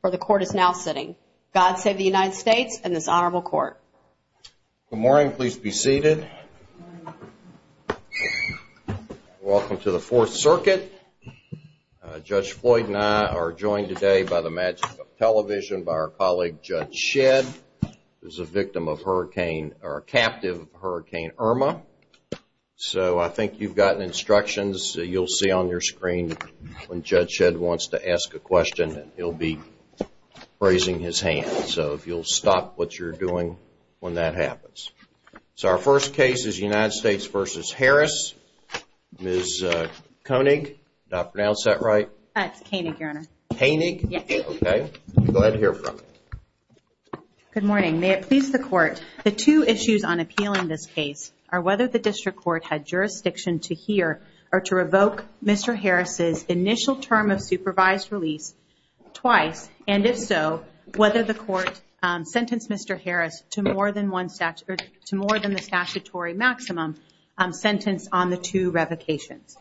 where the court is now sitting. God save the United States and this honorable court. Good morning. Please be seated. Welcome to the Fourth Circuit. Judge Floyd and I are joined today by the magic of television by our colleague Judge Shedd, who is a victim of hurricane or a captive of Hurricane Irma. So I think you've gotten instructions. You'll see on your screen when Judge Shedd wants to ask a question and he'll be raising his hand. So if you'll stop what you're doing when that happens. So our first case is United States v. Harris. Ms. Koenig, did I pronounce that right? That's Koenig, your honor. Koenig? Yes. Okay. I'm glad to hear from you. Good morning. May it please the court, the two issues on appeal in this case are whether the district court had jurisdiction to hear or to revoke Mr. Harris' initial term of supervised release twice and if so, whether the court sentenced Mr. Harris to more than the statutory maximum sentence on the two revocations.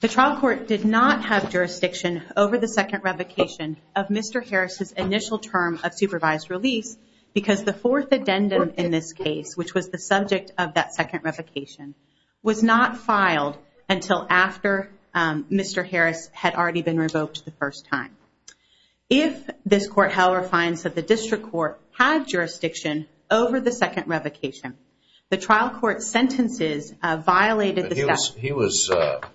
The trial court did not have jurisdiction over the second revocation of Mr. Harris' initial term of supervised release because the fourth addendum in this case, which was the subject of that second revocation, was not filed until after Mr. Harris had already been revoked the first time. If this court, however, finds that the district court had jurisdiction over the second revocation, the trial court's sentences violated the statute.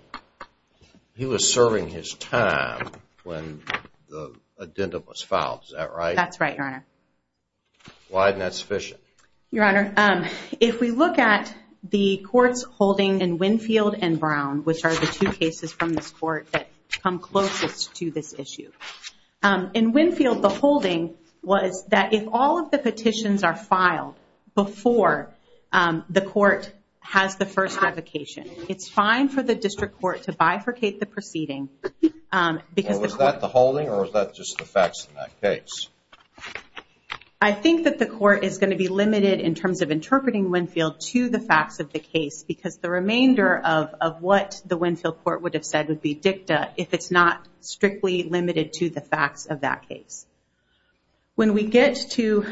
He was serving his term when the addendum was filed, is that right? That's right, your honor. Why isn't that sufficient? Your honor, if we look at the court's holding in Winfield and Brown, which are the two cases from this court that come closest to this issue. In Winfield, the holding was that if all of the petitions are filed before the court has the first revocation, it's fine for the district court to bifurcate the proceeding Was that the holding or was that just the facts in that case? I think that the court is going to be limited in terms of interpreting Winfield to the facts of the case because the remainder of what the Winfield court would have said would be dicta if it's not strictly limited to the facts of that case. When we get to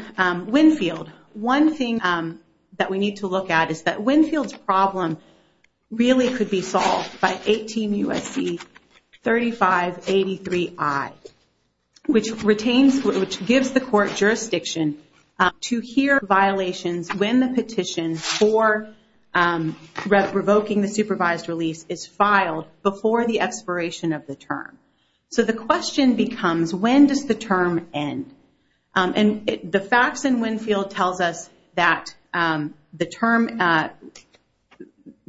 Winfield, one thing that we need to look at is that Winfield's problem really could be solved by 18 U.S.C. 3583I which gives the court jurisdiction to hear violations when the petition for revoking the supervised release is filed before the expiration of the term. So the question becomes when does the term end? The facts in Winfield tells us that the term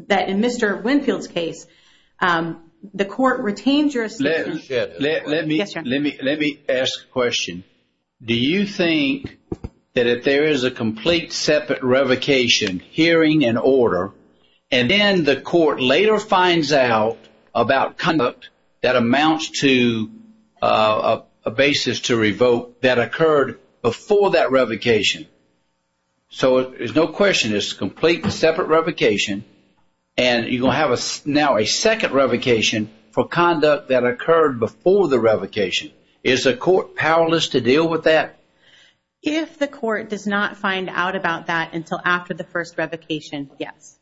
that in Mr. Winfield's case, the court Let me ask a question. Do you think that if there is a complete separate revocation hearing and order and then the court later finds out about conduct that amounts to a basis to revoke that occurred before that revocation. So there's no question it's a complete separate revocation and you're going to have now a second revocation for conduct that occurred before the revocation. Is the court powerless to deal with that? If the court does not find out about that until after the first revocation, yes.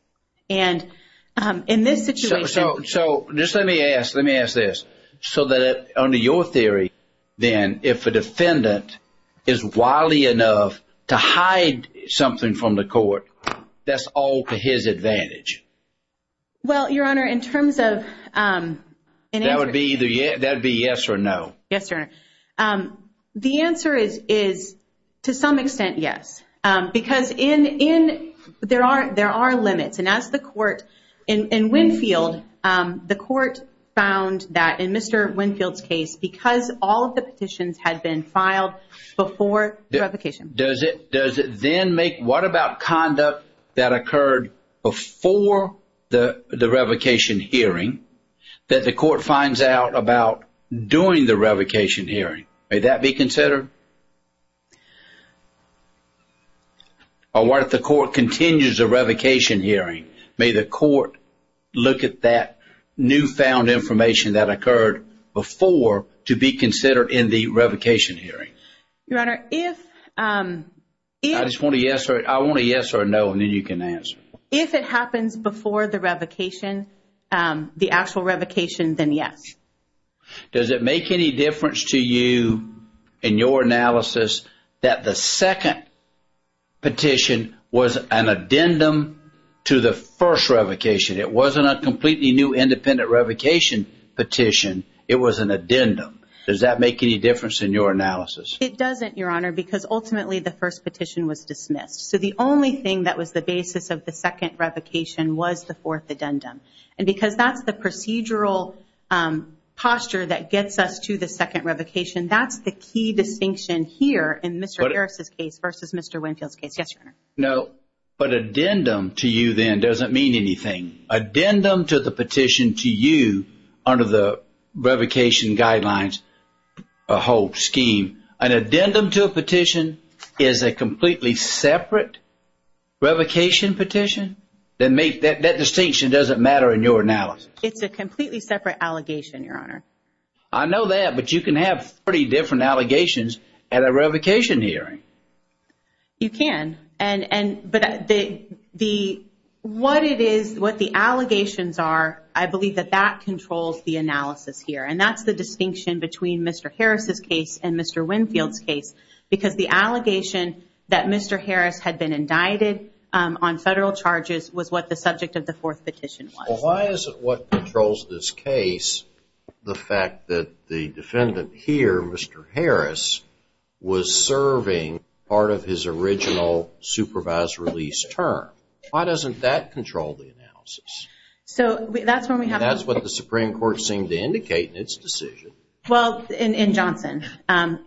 And in this situation Let me ask this. So under your theory, then if a defendant is wily enough to hide something from the court, that's all to his advantage? Well, your honor, in terms of That would be either yes or no. The answer is to some extent yes. Because there are limits and as the court in Winfield, the court found that in Mr. Winfield's case, because all of the petitions had been filed before the revocation. Does it then make, what about conduct that occurred before the that the court finds out about during the revocation hearing? May that be considered? Or what if the court continues a revocation hearing? May the court look at that newfound information that occurred before to be considered in the revocation hearing? Your honor, if I want a yes or a no and then you can answer. If it happens before the revocation, the actual revocation, then yes. Does it make any difference to you in your analysis that the second petition was an addendum to the first revocation? It wasn't a completely new independent revocation petition. It was an addendum. Does that make any difference in your analysis? It doesn't, your honor, because ultimately the first petition was dismissed. So the only thing that was the basis of the second revocation was the fourth addendum. And because that's the procedural posture that gets us to the second revocation, that's the key distinction here in Mr. Harris' case versus Mr. Winfield's case. Yes, your honor. But addendum to you then doesn't mean anything. Addendum to the petition to you under the revocation guidelines whole scheme. An addendum to a petition is a completely separate revocation petition? That distinction doesn't matter in your analysis. It's a completely separate allegation, your honor. I know that, but you can have 30 different allegations at a revocation hearing. You can, but what it is, what the allegations are, I believe that that controls the analysis here. And that's the distinction between Mr. Harris' case and Mr. Winfield's case, because the allegation that Mr. Harris had been indicted on federal charges was what the subject of the fourth petition was. Well, why is it what controls this case the fact that the defendant here, Mr. Harris, was serving part of his original supervised release term? Why doesn't that control the analysis? That's what the Supreme Court seemed to indicate in its decision. Well, in Johnson,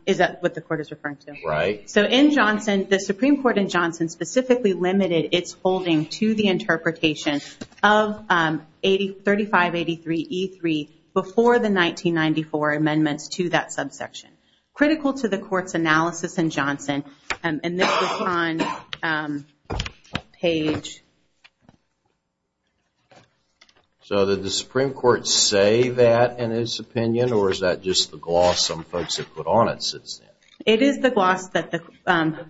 is that what the court is referring to? Right. So in Johnson, the Supreme Court in Johnson specifically limited its holding to the interpretation of 3583 E3 before the 1994 amendments to that subsection. Critical to the court's analysis in Johnson, and this was on page... So did the Supreme Court say that in its opinion, or is that just the gloss some folks have put on it since then? It is the gloss that the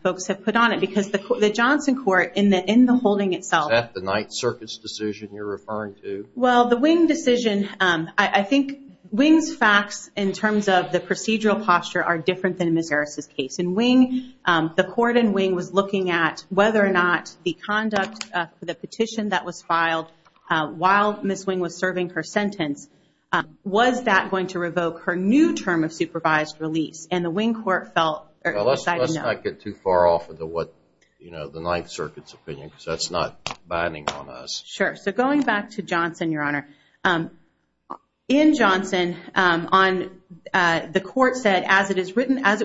folks have put on it, because the Johnson court in the holding itself... Is that the Ninth Circuit's decision you're referring to? Well, the Wing decision, I think Wing's facts in terms of the procedural posture are different than Ms. Harris' case. In Wing, the court in Wing was looking at whether or not the conduct for the petition that was filed while Ms. Wing was serving her sentence, was that going to revoke her new term of supervised release? And the Wing court decided no. Let's not get too far off of the Ninth Circuit's opinion, because that's not binding on us. Sure. So going back to Johnson, Your Honor, in Johnson, the court said, as it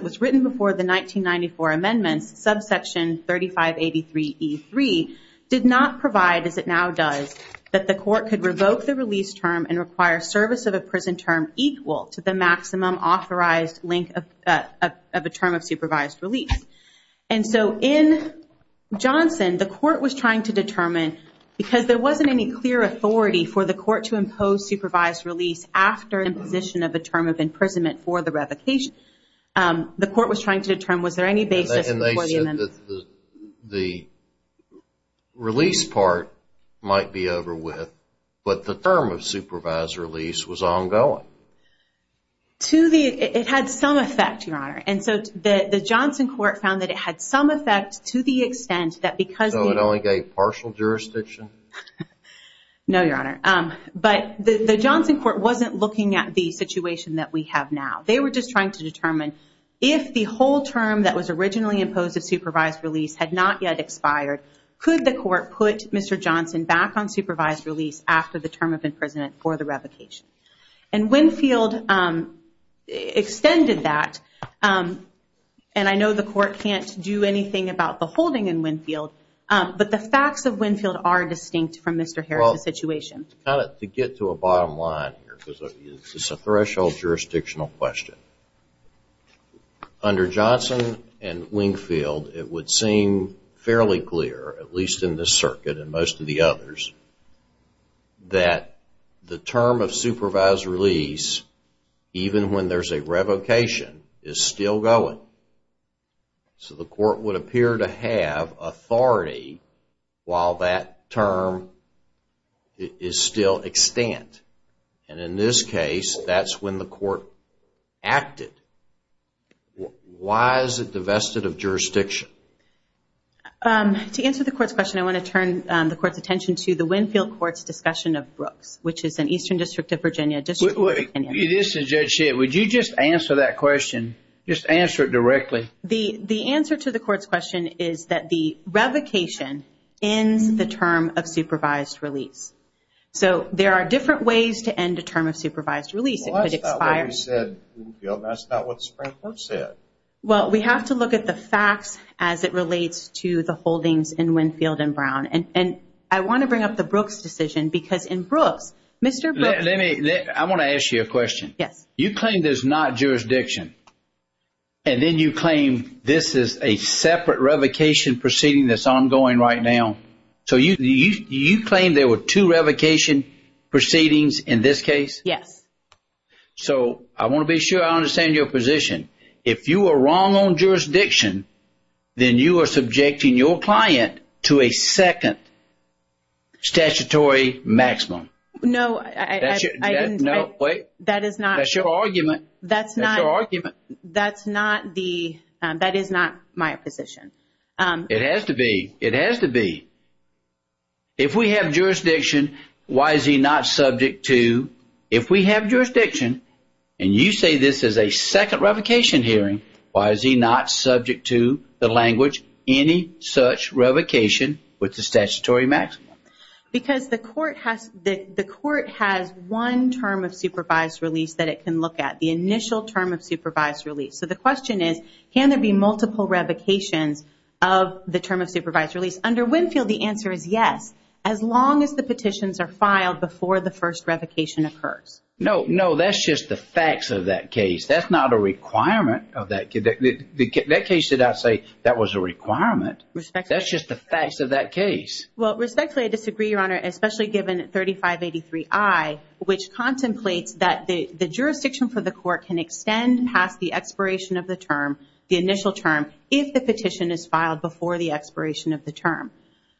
was written before the 1994 amendments, subsection 3583 E3 did not provide, as it now does, that the court could revoke the release term and require service of a prison term equal to the maximum authorized link of a term of supervised release. And so in Johnson, the court was trying to determine, because there wasn't any clear authority for the court to impose supervised release after imposition of a term of imprisonment for the revocation, the court was trying to determine was there any basis... And they said that the release part might be over with, but the term of supervised release was ongoing. It had some effect, Your Honor. And so the Johnson court found that it had some effect to the extent that because... So it only gave partial jurisdiction? No, Your Honor. But the Johnson court wasn't looking at the situation that we have now. They were just trying to determine if the whole term that was originally imposed of supervised release had not yet expired, could the court put Mr. Johnson back on supervised release after the term of imprisonment for the revocation? And Winfield extended that and I know the court can't do anything about the holding in Winfield, but the facts of Winfield are distinct from Mr. Harris' situation. To get to a bottom line, it's a threshold jurisdictional question. Under Johnson and Winfield, it would seem fairly clear, at least in this circuit and most of the others, that the term of supervised release, even when there's a revocation, is still going. So the court would appear to have authority while that term is still extant. And in this case, that's when the court acted. Why is it divested of jurisdiction? To answer the court's question, I want to turn the court's attention to the Winfield Court's discussion of Brooks, which is an Eastern District of Virginia district. This is Judge Schitt. Would you just answer that question? Just answer it directly. The answer to the court's question is that the revocation ends the term of supervised release. So there are different ways to end a term of supervised release. That's not what Springbrook said. Well, we have to look at the facts as it relates to the holdings in Winfield and Brown. And I want to bring up the Brooks decision, because in Brooks, Mr. Brooks... I want to ask you a question. You claim there's not jurisdiction. And then you claim this is a separate revocation proceeding that's ongoing right now. So you claim there were two revocations in this case? Yes. So I want to be sure I understand your position. If you are wrong on jurisdiction, then you are subjecting your client to a second statutory maximum. That's your argument. That is not my position. It has to be. It has to be. If we have jurisdiction, why is he not subject to... If we have jurisdiction and you say this is a second revocation hearing, why is he not subject to the language, any such revocation with the statutory maximum? Because the court has one term of supervised release that it can look at. The initial term of supervised release. So the question is, can there be multiple revocations of the term of supervised release? Under Winfield, the answer is yes, as long as the petitions are filed before the first revocation occurs. No, no, that's just the facts of that case. That's not a requirement of that... That case did not say that was a requirement. Respectfully. That's just the facts of that case. Well, respectfully, I disagree, Your Honor, especially given 3583I, which contemplates that the jurisdiction for the court can extend past the expiration of the term, the initial term, if the petition is filed before the expiration of the term.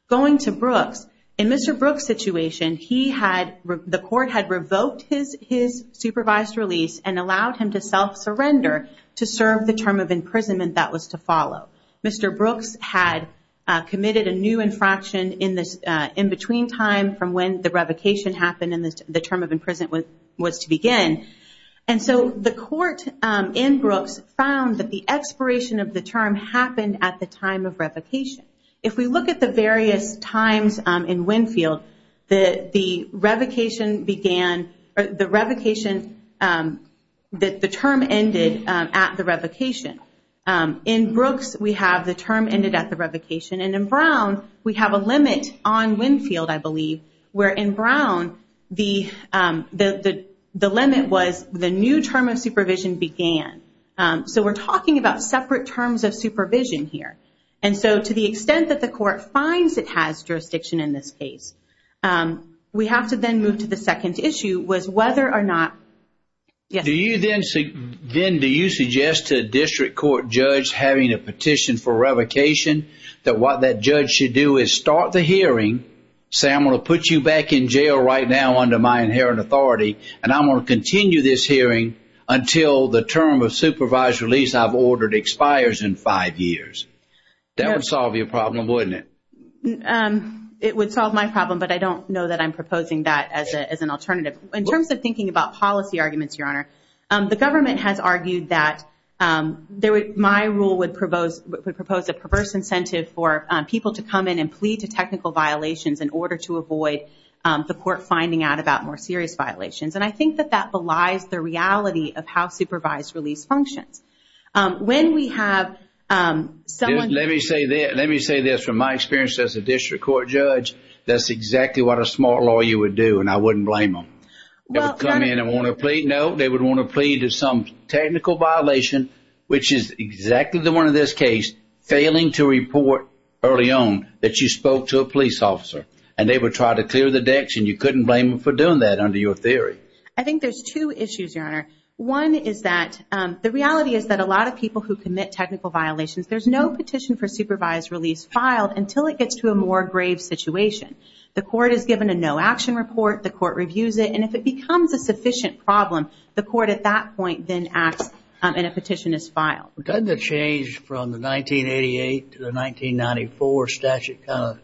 Going to Brooks, in Mr. Brooks' situation, he had... The court had revoked his supervised release and allowed him to self-surrender to serve the term of imprisonment that was to follow. Mr. Brooks had committed a new infraction in between time from when the revocation happened and the term of imprisonment was to begin. And so the court in Brooks found that the expiration of the term happened at the time of revocation. If we look at the various times in Winfield, the revocation began... The term ended at the revocation. In Brooks, we have the term ended at the revocation. And in Brown, we have a limit on Winfield, I believe, where in Brown, the limit was the new term of supervision began. So we're talking about separate terms of supervision here. And so to the extent that the court finds it has jurisdiction in this case, we have to then move to the second issue, was whether or not... Do you then suggest to a district court judge having a petition for revocation, that what that judge should do is start the hearing, say I'm going to put you back in jail right now under my inherent authority, and I'm going to continue this hearing until the term of supervised release I've ordered expires in five years. That would solve your problem, wouldn't it? It would solve my problem, but I don't know that I'm proposing that as an alternative. In terms of thinking about policy arguments, Your Honor, the government has argued that my rule would propose a perverse incentive for people to come in and plead to technical violations in order to avoid the court finding out about more serious violations. And I think that that is the reality of how supervised release functions. Let me say this, from my experience as a district court judge, that's exactly what a smart lawyer would do, and I wouldn't blame them. They would come in and want to plead, no, they would want to plead to some technical violation, which is exactly the one in this case, failing to report early on that you spoke to a police officer. And they would try to clear the decks, and you couldn't blame them for doing that, under your theory. I think there's two issues, Your Honor. One is that the reality is that a lot of people who commit technical violations, there's no petition for supervised release filed until it gets to a more grave situation. The court is given a no-action report, the court reviews it, and if it becomes a sufficient problem, the court at that point then acts and a petition is filed. Doesn't it change from the 1988 to the 1994 statute kind of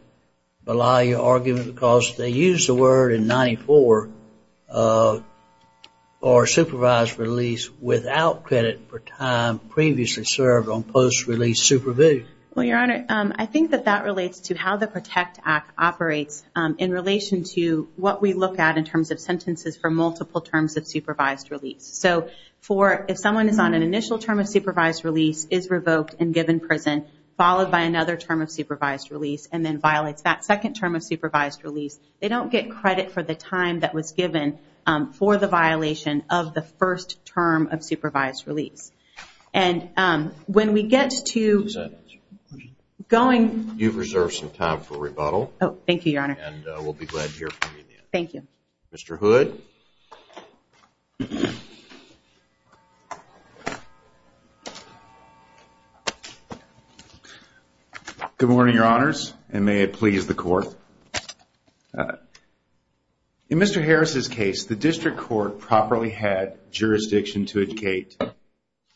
allow you argument, because they used the word in 1994 for supervised release without credit for time previously served on post-release supervision? Well, Your Honor, I think that that relates to how the PROTECT Act operates in relation to what we look at in terms of sentences for multiple terms of supervised release. So if someone is on an initial term of supervised release, is revoked, and given prison, followed by another term of supervised release, and then violates that they don't get credit for the time that was given for the violation of the first term of supervised release. When we get to going... You've reserved some time for rebuttal. Thank you, Your Honor. Mr. Hood? Good morning, Your Honors, and may it please the Court. In Mr. Harris's case, the district court properly had jurisdiction to educate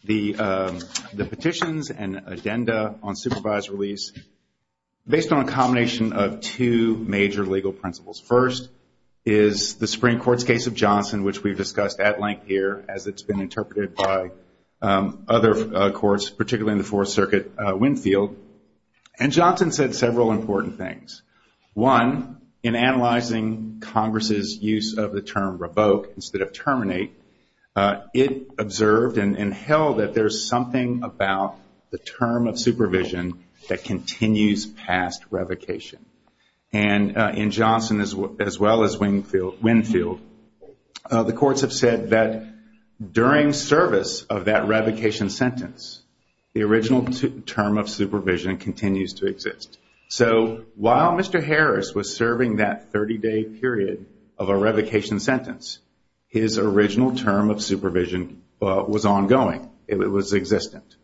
the petitions and addenda on supervised release based on a combination of two major legal principles. First is the Supreme Court's case of Johnson, which we've discussed at length here, as it's been interpreted by other courts, particularly in the Fourth Circuit, Winfield. And Johnson said several important things. One, in analyzing Congress' use of the term revoke instead of terminate, it observed and held that there's something about the term of supervision that continues past revocation. And in Johnson as well as Winfield, the courts have said that during service of that revocation sentence, the original term of supervision continues to exist. So while Mr. Harris was serving that 30-day period of a revocation sentence, his original term of supervision was ongoing. It was existent.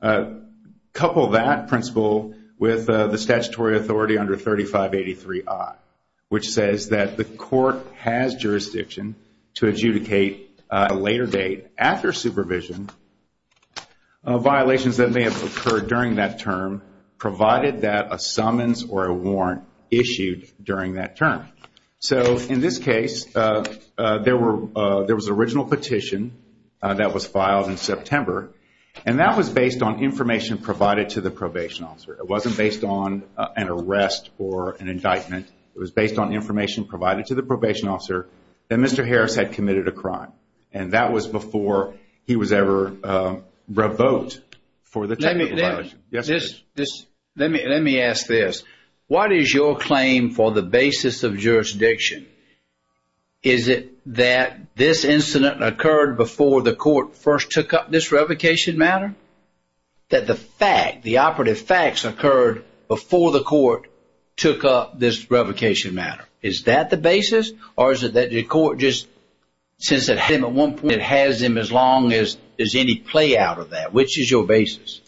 Couple that principle with the statutory authority under 3583I, which says that the court has jurisdiction to adjudicate a later date after supervision violations that may have occurred during that term provided that a summons or a warrant issued during that term. So in this case, there was an original petition that was filed in September and that was based on information provided to the probation officer. It wasn't based on an arrest or an indictment. It was based on information provided to the probation officer that Mr. Harris had committed a crime. And that was before he was ever revoked for the technical violation. Let me ask this. What is your claim for the basis of jurisdiction? Is it that this incident occurred before the court first took up this revocation matter? That the fact, the operative facts, occurred before the court took up this revocation matter? Is that the basis or is it that the court just, since it had him at one point, it has him as long as any play out of that? Which is your basis?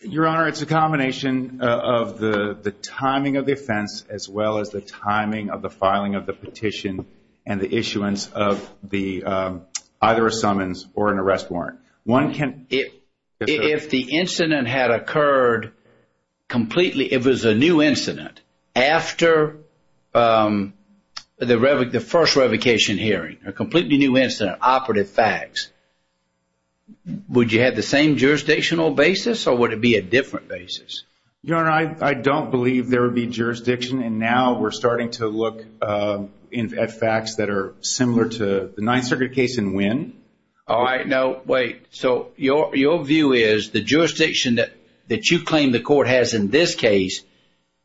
Your Honor, it's a combination of the timing of the offense as well as the timing of the filing of the petition and the issuance of either a summons or an arrest warrant. One can If the incident had occurred completely, if it was a new incident, after the first revocation hearing, a completely new incident, operative facts, would you have the same jurisdictional basis or would it be a different basis? Your Honor, I don't believe there would be jurisdiction and now we're starting to look at facts that are similar to the Ninth Circuit case and when. Alright, now wait. So your view is the jurisdiction that you claim the court has in this case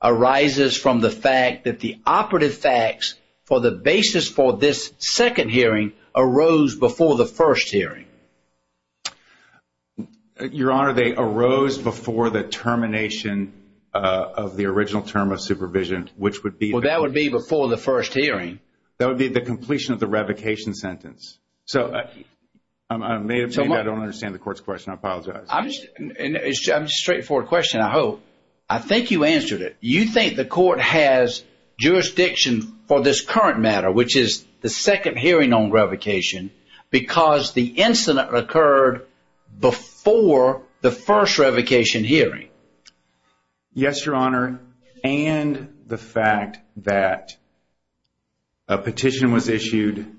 arises from the fact that the operative facts for the basis for this second hearing arose before the first hearing? Your Honor, they arose before the termination of the original term of supervision, which would be. Well, that would be before the first hearing. That would be the completion of the revocation sentence. So, I may have made that. I don't understand the court's question. I apologize. I'm just, it's a straightforward question, I hope. I think you answered it. You think the court has jurisdiction for this current matter, which is the second hearing on revocation because the incident occurred before the first revocation hearing? Yes, Your Honor, and the fact that a petition was issued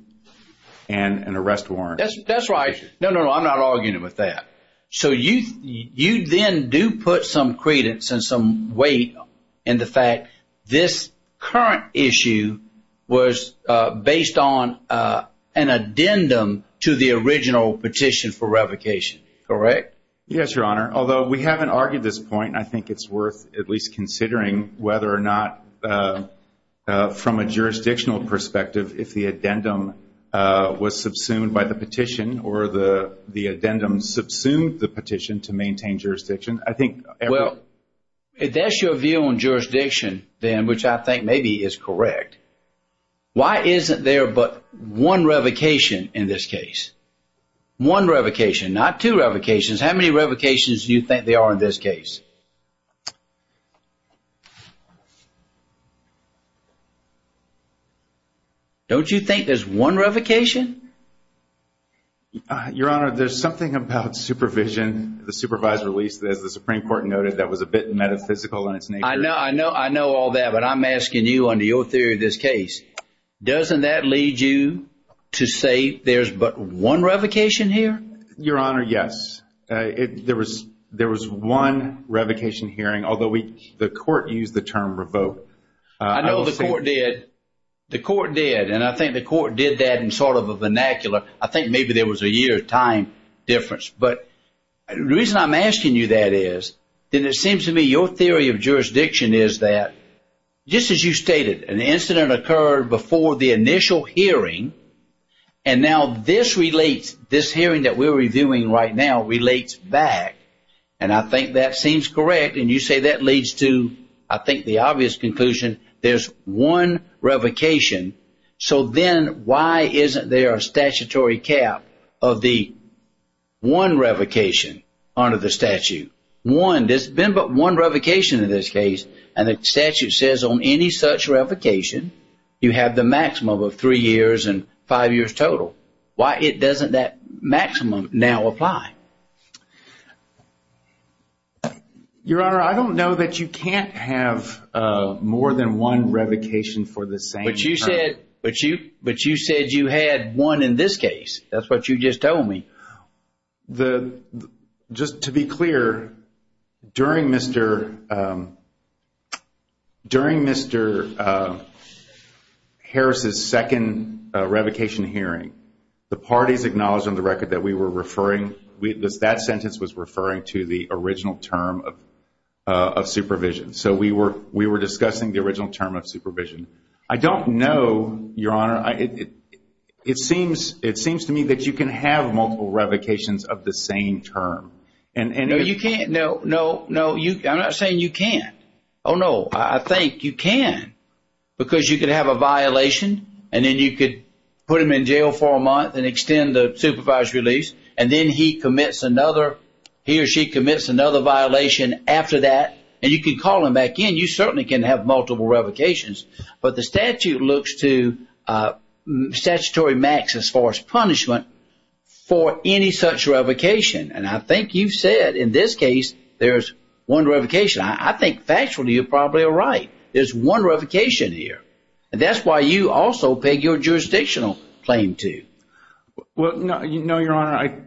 and an arrest warrant. That's right. No, no, I'm not arguing with that. So, you then do put some credence and some weight in the fact this current issue was based on an addendum to the original petition for revocation, correct? Yes, Your Honor. Although we haven't argued this point, I think it's worth at least considering whether or not, from a jurisdictional perspective, if the addendum was subsumed by the petition or the petition to maintain jurisdiction. Well, if that's your view on jurisdiction, then, which I think maybe is correct, why isn't there but one revocation in this case? One revocation, not two revocations. How many revocations do you think there are in this case? Don't you think there's one revocation? Your Honor, there's something about supervision, the supervised release, as the Supreme Court noted, that was a bit metaphysical in its nature. I know all that, but I'm asking you, under your theory of this case, doesn't that lead you to say there's but one revocation here? Your Honor, yes. There was one revocation hearing, although the court used the term revoke. I know the court did. The court did, and I think the court did that in sort of a vernacular. I think maybe there was a year time difference, but the reason I'm asking you that is, then it seems to me your theory of jurisdiction is that, just as you stated, an incident occurred before the initial hearing, and now this relates, this hearing that we're reviewing right now relates back, and I think that seems correct, and you say that leads to, I think, the obvious conclusion, there's one revocation, so then why isn't there a statutory cap of the one revocation under the statute? One, there's been but one revocation in this case, and the statute says on any such revocation, you have the maximum of three years and five years total. Why doesn't that maximum now apply? Your Honor, I don't know that you can't have more than one revocation for the same term. But you said you had one in this case. That's what you just told me. Just to be clear, during Mr. Harris's second revocation hearing, the parties acknowledged on the record that we were referring, that sentence was referring to the original term of supervision, so we were discussing the original term of supervision. I don't know, Your Honor, it seems to me that you can have multiple revocations of the same term. No, you can't. No, no, no, I'm not saying you can't. Oh, no, I think you can, because you can have a violation, and then you could put him in jail for a month and extend the supervised release, and then he commits another, he or she commits another violation after that, and you can call him back in. You certainly can have multiple revocations, but the statute looks to statutory max as far as punishment for any such revocation, and I think you've said in this case there's one revocation. I think factually you're probably right. There's one revocation here, and that's why you also peg your jurisdictional claim to. Well, no, Your Honor,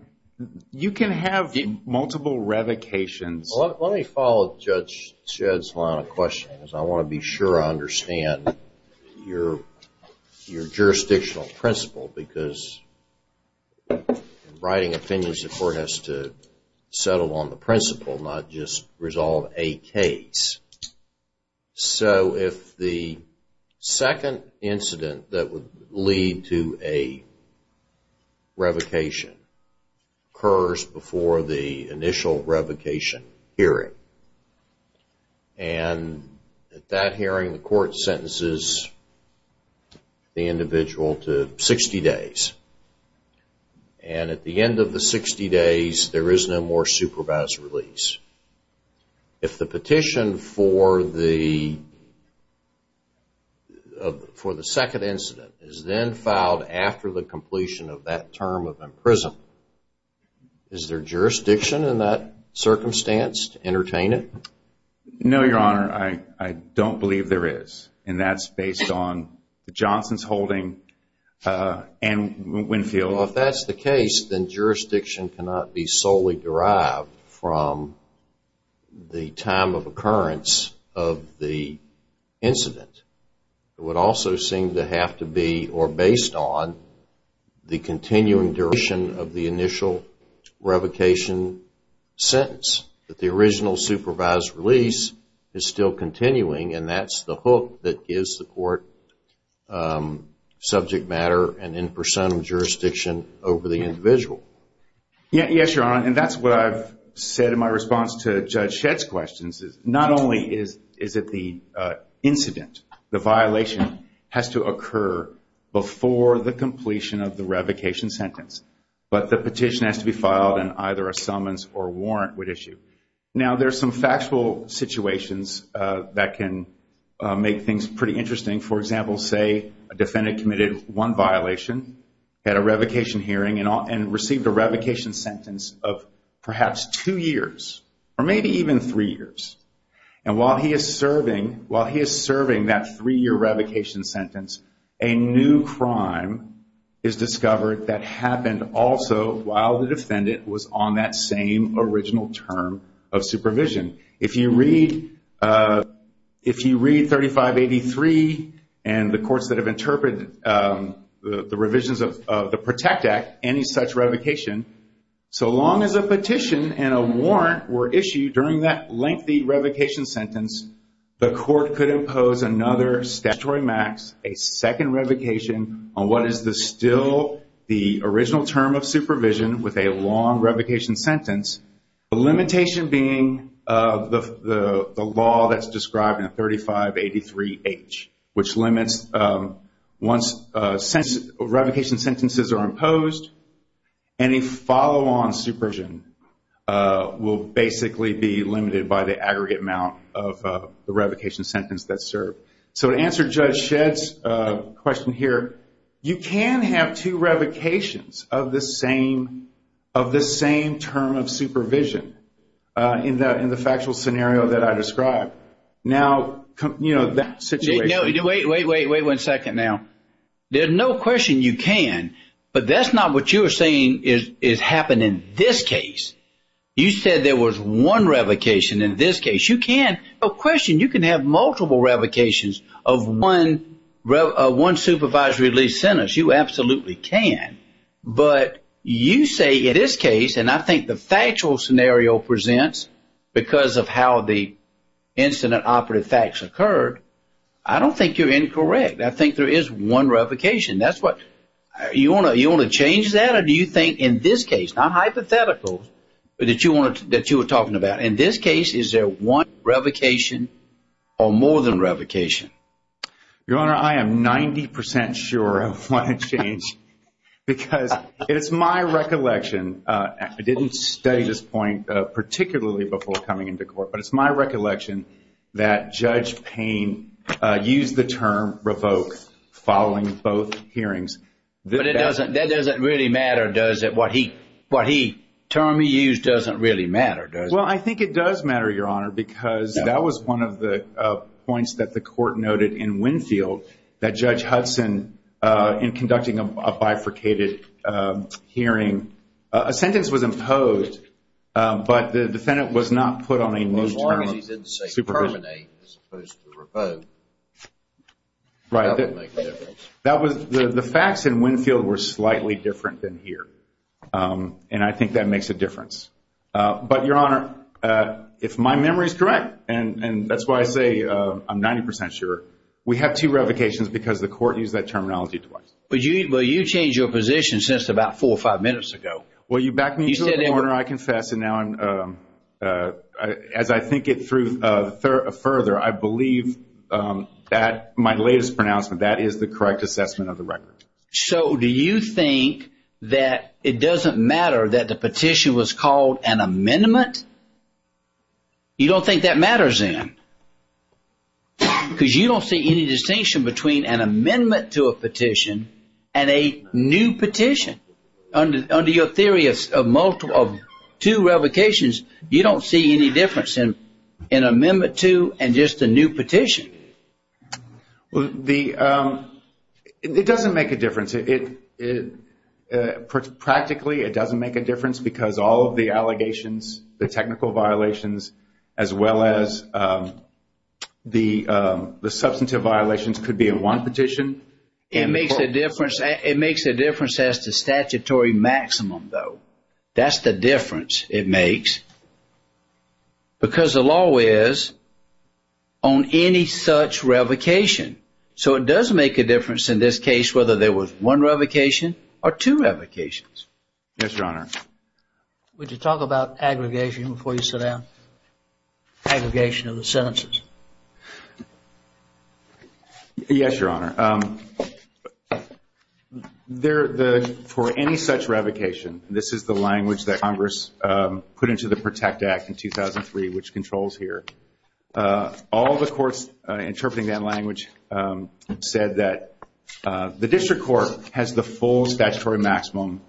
you can have multiple revocations. Let me follow Judge Shedd's line of questioning, because I want to be sure I understand your jurisdictional principle, because in writing opinions, the court has to settle on the principle, not just resolve a case. So, if the second incident that would lead to a revocation occurs before the initial revocation hearing, and at that hearing, the court sentences the individual to 60 days, and at the end of the 60 days, there is no more supervised release. If the petition for the second incident is then filed after the completion of that term of imprisonment, is there jurisdiction in that circumstance to entertain it? No, Your Honor, I don't believe there is, and that's based on Johnson's holding and Winfield. Well, if that's the case, then jurisdiction cannot be solely derived from the time of occurrence of the incident. It would also seem to have to be, or based on, the continuing duration of the initial revocation sentence. That the original supervised release is still continuing and that's the hook that gives the court subject matter and in personam jurisdiction over the individual. Yes, Your Honor, and that's what I've said in my response to Judge Shedd's questions. Not only is it the incident, the violation has to occur before the sentence, but the petition has to be filed and either a summons or warrant would issue. Now, there's some factual situations that can make things pretty interesting. For example, say a defendant committed one violation, had a revocation hearing, and received a revocation sentence of perhaps two years, or maybe even three years. And while he is serving that three-year revocation sentence, a new crime is discovered that happened also while the defendant was on that same original term of supervision. If you read 3583 and the courts that have interpreted the revisions of the PROTECT Act, any such revocation, so long as a petition and a warrant were issued during that lengthy revocation sentence, the court could impose another statutory max, a second revocation on what is still the original term of supervision with a long revocation sentence, the limitation being the law that's described in 3583H, which limits once revocation sentences are imposed, any follow-on supervision will basically be limited by the aggregate amount of the revocation sentence that's described. You can have two revocations of the same term of supervision in the factual scenario that I described. Wait a second now. There's no question you can, but that's not what you're saying is happening in this case. You said there was one revocation in this case. You can have multiple revocations of one supervised release sentence. You absolutely can, but you say in this case, and I think the factual scenario presents because of how the incident-operative facts occurred, I don't think you're incorrect. I think there is one revocation. Do you want to change that, or do you think in this case, not hypothetical, that you were talking about, in this case, is there one revocation or more than revocation? Your Honor, I am 90% sure I want to change, because it's my recollection, I didn't study this point particularly before coming into court, but it's my recollection that Judge Payne used the term revoke following both hearings. But that doesn't really matter, does it? What he, the term he used doesn't really matter, does it? Well, I think it does matter, Your Honor, because that was one of the points that the court noted in Winfield that Judge Hudson in conducting a bifurcated hearing, a sentence was imposed, but the defendant was not put on a new term of supervision. As long as he didn't say terminate as opposed to revoke. Right. That would make a difference. The facts in Winfield were slightly different than here, and I think that makes a difference. But, Your Honor, if my memory is correct and that's why I say I'm 90% sure, we have two revocations because the court used that terminology twice. But you changed your position since about four or five minutes ago. Well, you back me to the corner, I confess, and now as I think it through further, I believe that my latest pronouncement, that is the correct assessment of the record. So, do you think that it doesn't matter that the petition was called an amendment? You don't think that matters then? Because you don't see any distinction between an amendment to a petition and a new petition. Under your theory of two revocations, you don't see any difference in amendment to and just a new petition. It doesn't make a difference. Practically, it doesn't make a difference because all of the allegations, the technical violations, as well as the substantive violations could be in one petition. It makes a difference as to statutory maximum, though. That's the difference it makes. Because the law is on any such revocation. So it does make a difference in this case whether there was one revocation or two revocations. Yes, Your Honor. Would you talk about aggregation before you sit down? Aggregation of the sentences. Yes, Your Honor. For any such revocation, this is the language that Congress put into the Protect Act in 2003 which controls here. All the courts interpreting that said that the district court has the full statutory maximum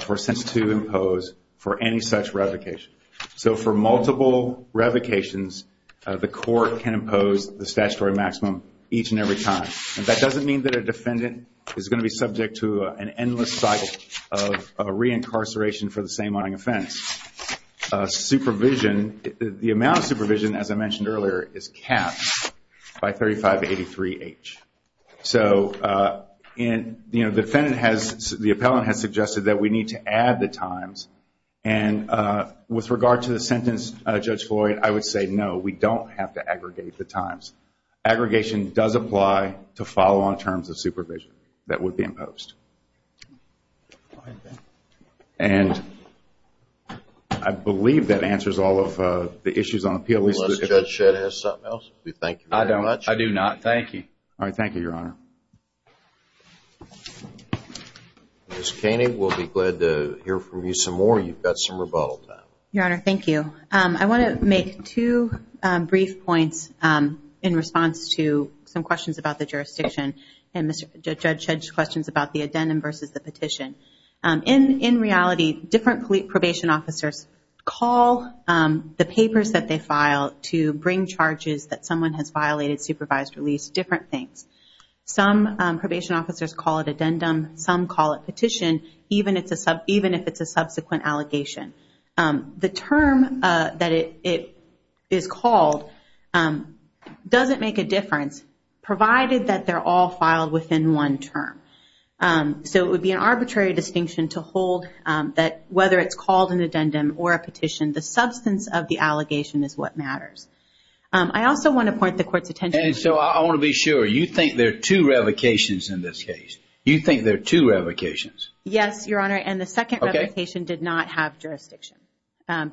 for a sentence to impose for any such revocation. So for multiple revocations, the court can impose the statutory maximum each and every time. That doesn't mean that a defendant is going to be subject to an endless cycle of re-incarceration for the same only offense. The amount of supervision, as I mentioned earlier, is capped by 3583H. The appellant has suggested that we need to add the times. With regard to the sentence, Judge Floyd, I would say no. We don't have to aggregate the times. Aggregation does apply to follow on terms of supervision that would be imposed. I believe that answers all of the issues on appeal. I do not. Thank you. Thank you, Your Honor. Ms. Kaney, we'll be glad to hear from you some more. You've got some rebuttal time. Your Honor, thank you. I want to make two brief points in response to some questions about the jurisdiction and Judge Shedd's questions about the addendum versus the petition. In reality, different probation officers call the papers that they file to bring charges that someone has violated supervised release different things. Some probation officers call it addendum. Some call it petition, even if it's a subsequent allegation. The term that it is called doesn't make a difference provided that they're all filed within one term. It would be an arbitrary distinction to hold that whether it's called an addendum or a petition, the substance of the allegation is what matters. I also want to point the Court's attention... And so I want to be sure, you think there are two revocations in this case? You think there are two revocations? Yes, Your Honor, and the second revocation did not have jurisdiction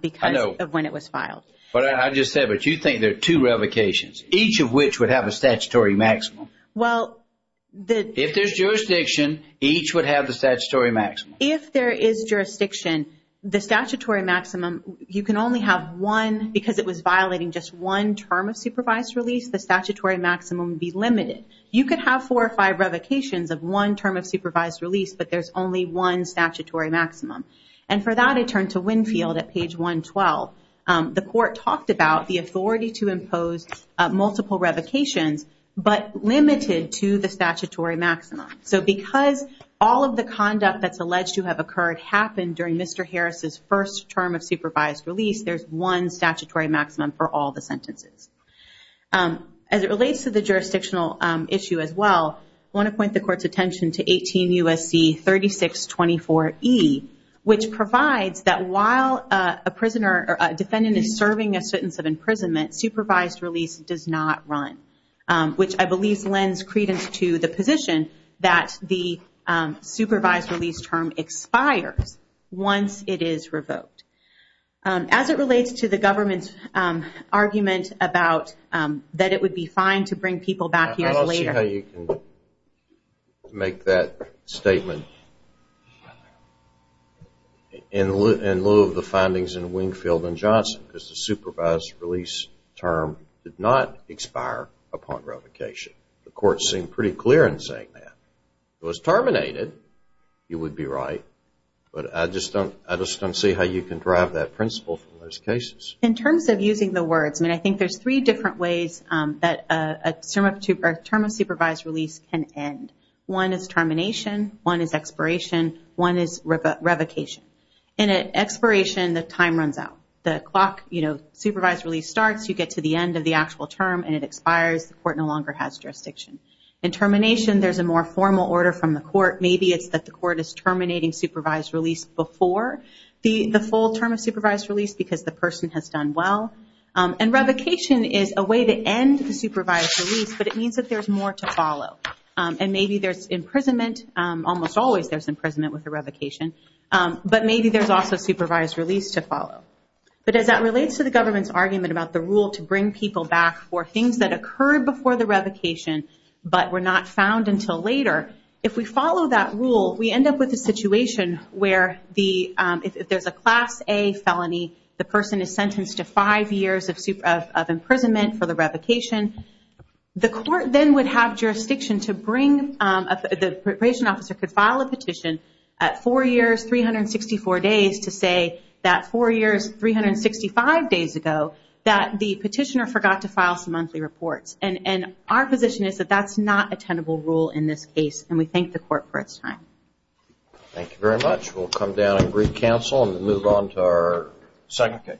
because of when it was filed. I know. But I just said, but you think there are two revocations, each of which would have a statutory maximum? If there's jurisdiction, each would have the statutory maximum. If there is jurisdiction, the statutory maximum, you can only have one because it was violating just one term of supervised release. The statutory maximum would be limited. You could have four or five revocations of one term of supervised release, but there's only one statutory maximum. And for that, it turned to Winfield at page 112. The Court talked about the authority to impose multiple revocations, but limited to the statutory maximum. So because all of the conduct that's alleged to have occurred happened during Mr. Harris' first term of supervised release, there's one statutory maximum for all the sentences. As it relates to the jurisdictional issue as well, I want to point the Court's attention to 18 U.S.C. 3624E, which provides that while a defendant is serving a sentence of imprisonment, supervised release does not run, which I believe lends credence to the position that the supervised release term expires once it is revoked. As it relates to the government's argument about that it would be fine to bring people back years later. I don't see how you can make that statement in lieu of the findings in Winfield and Johnson, because the supervised release term did not expire upon clearance. If it was terminated, you would be right. But I just don't see how you can derive that principle from those cases. In terms of using the words, I think there's three different ways that a term of supervised release can end. One is termination, one is expiration, one is revocation. In expiration, the time runs out. The clock supervised release starts, you get to the end of the actual term, and it expires. The Court no longer has jurisdiction. In termination, there's a more formal order from the Court. Maybe it's that the Court is terminating supervised release before the full term of supervised release, because the person has done well. Revocation is a way to end the supervised release, but it means that there's more to follow. Maybe there's imprisonment, almost always there's imprisonment with a revocation, but maybe there's also supervised release to follow. As that relates to the government's argument about the rule to bring people back for things that occurred before the revocation, but were not found until later, if we follow that rule, we end up with a situation where if there's a Class A felony, the person is sentenced to five years of imprisonment for the revocation. The Court then would have jurisdiction to bring, the preparation officer could file a petition at four years, 364 days to say that four years, 365 days ago that the petitioner forgot to file some monthly reports. Our position is that that's not a tenable rule in this case, and we thank the Court for its time. Thank you very much. We'll come down and brief counsel and move on to our second case.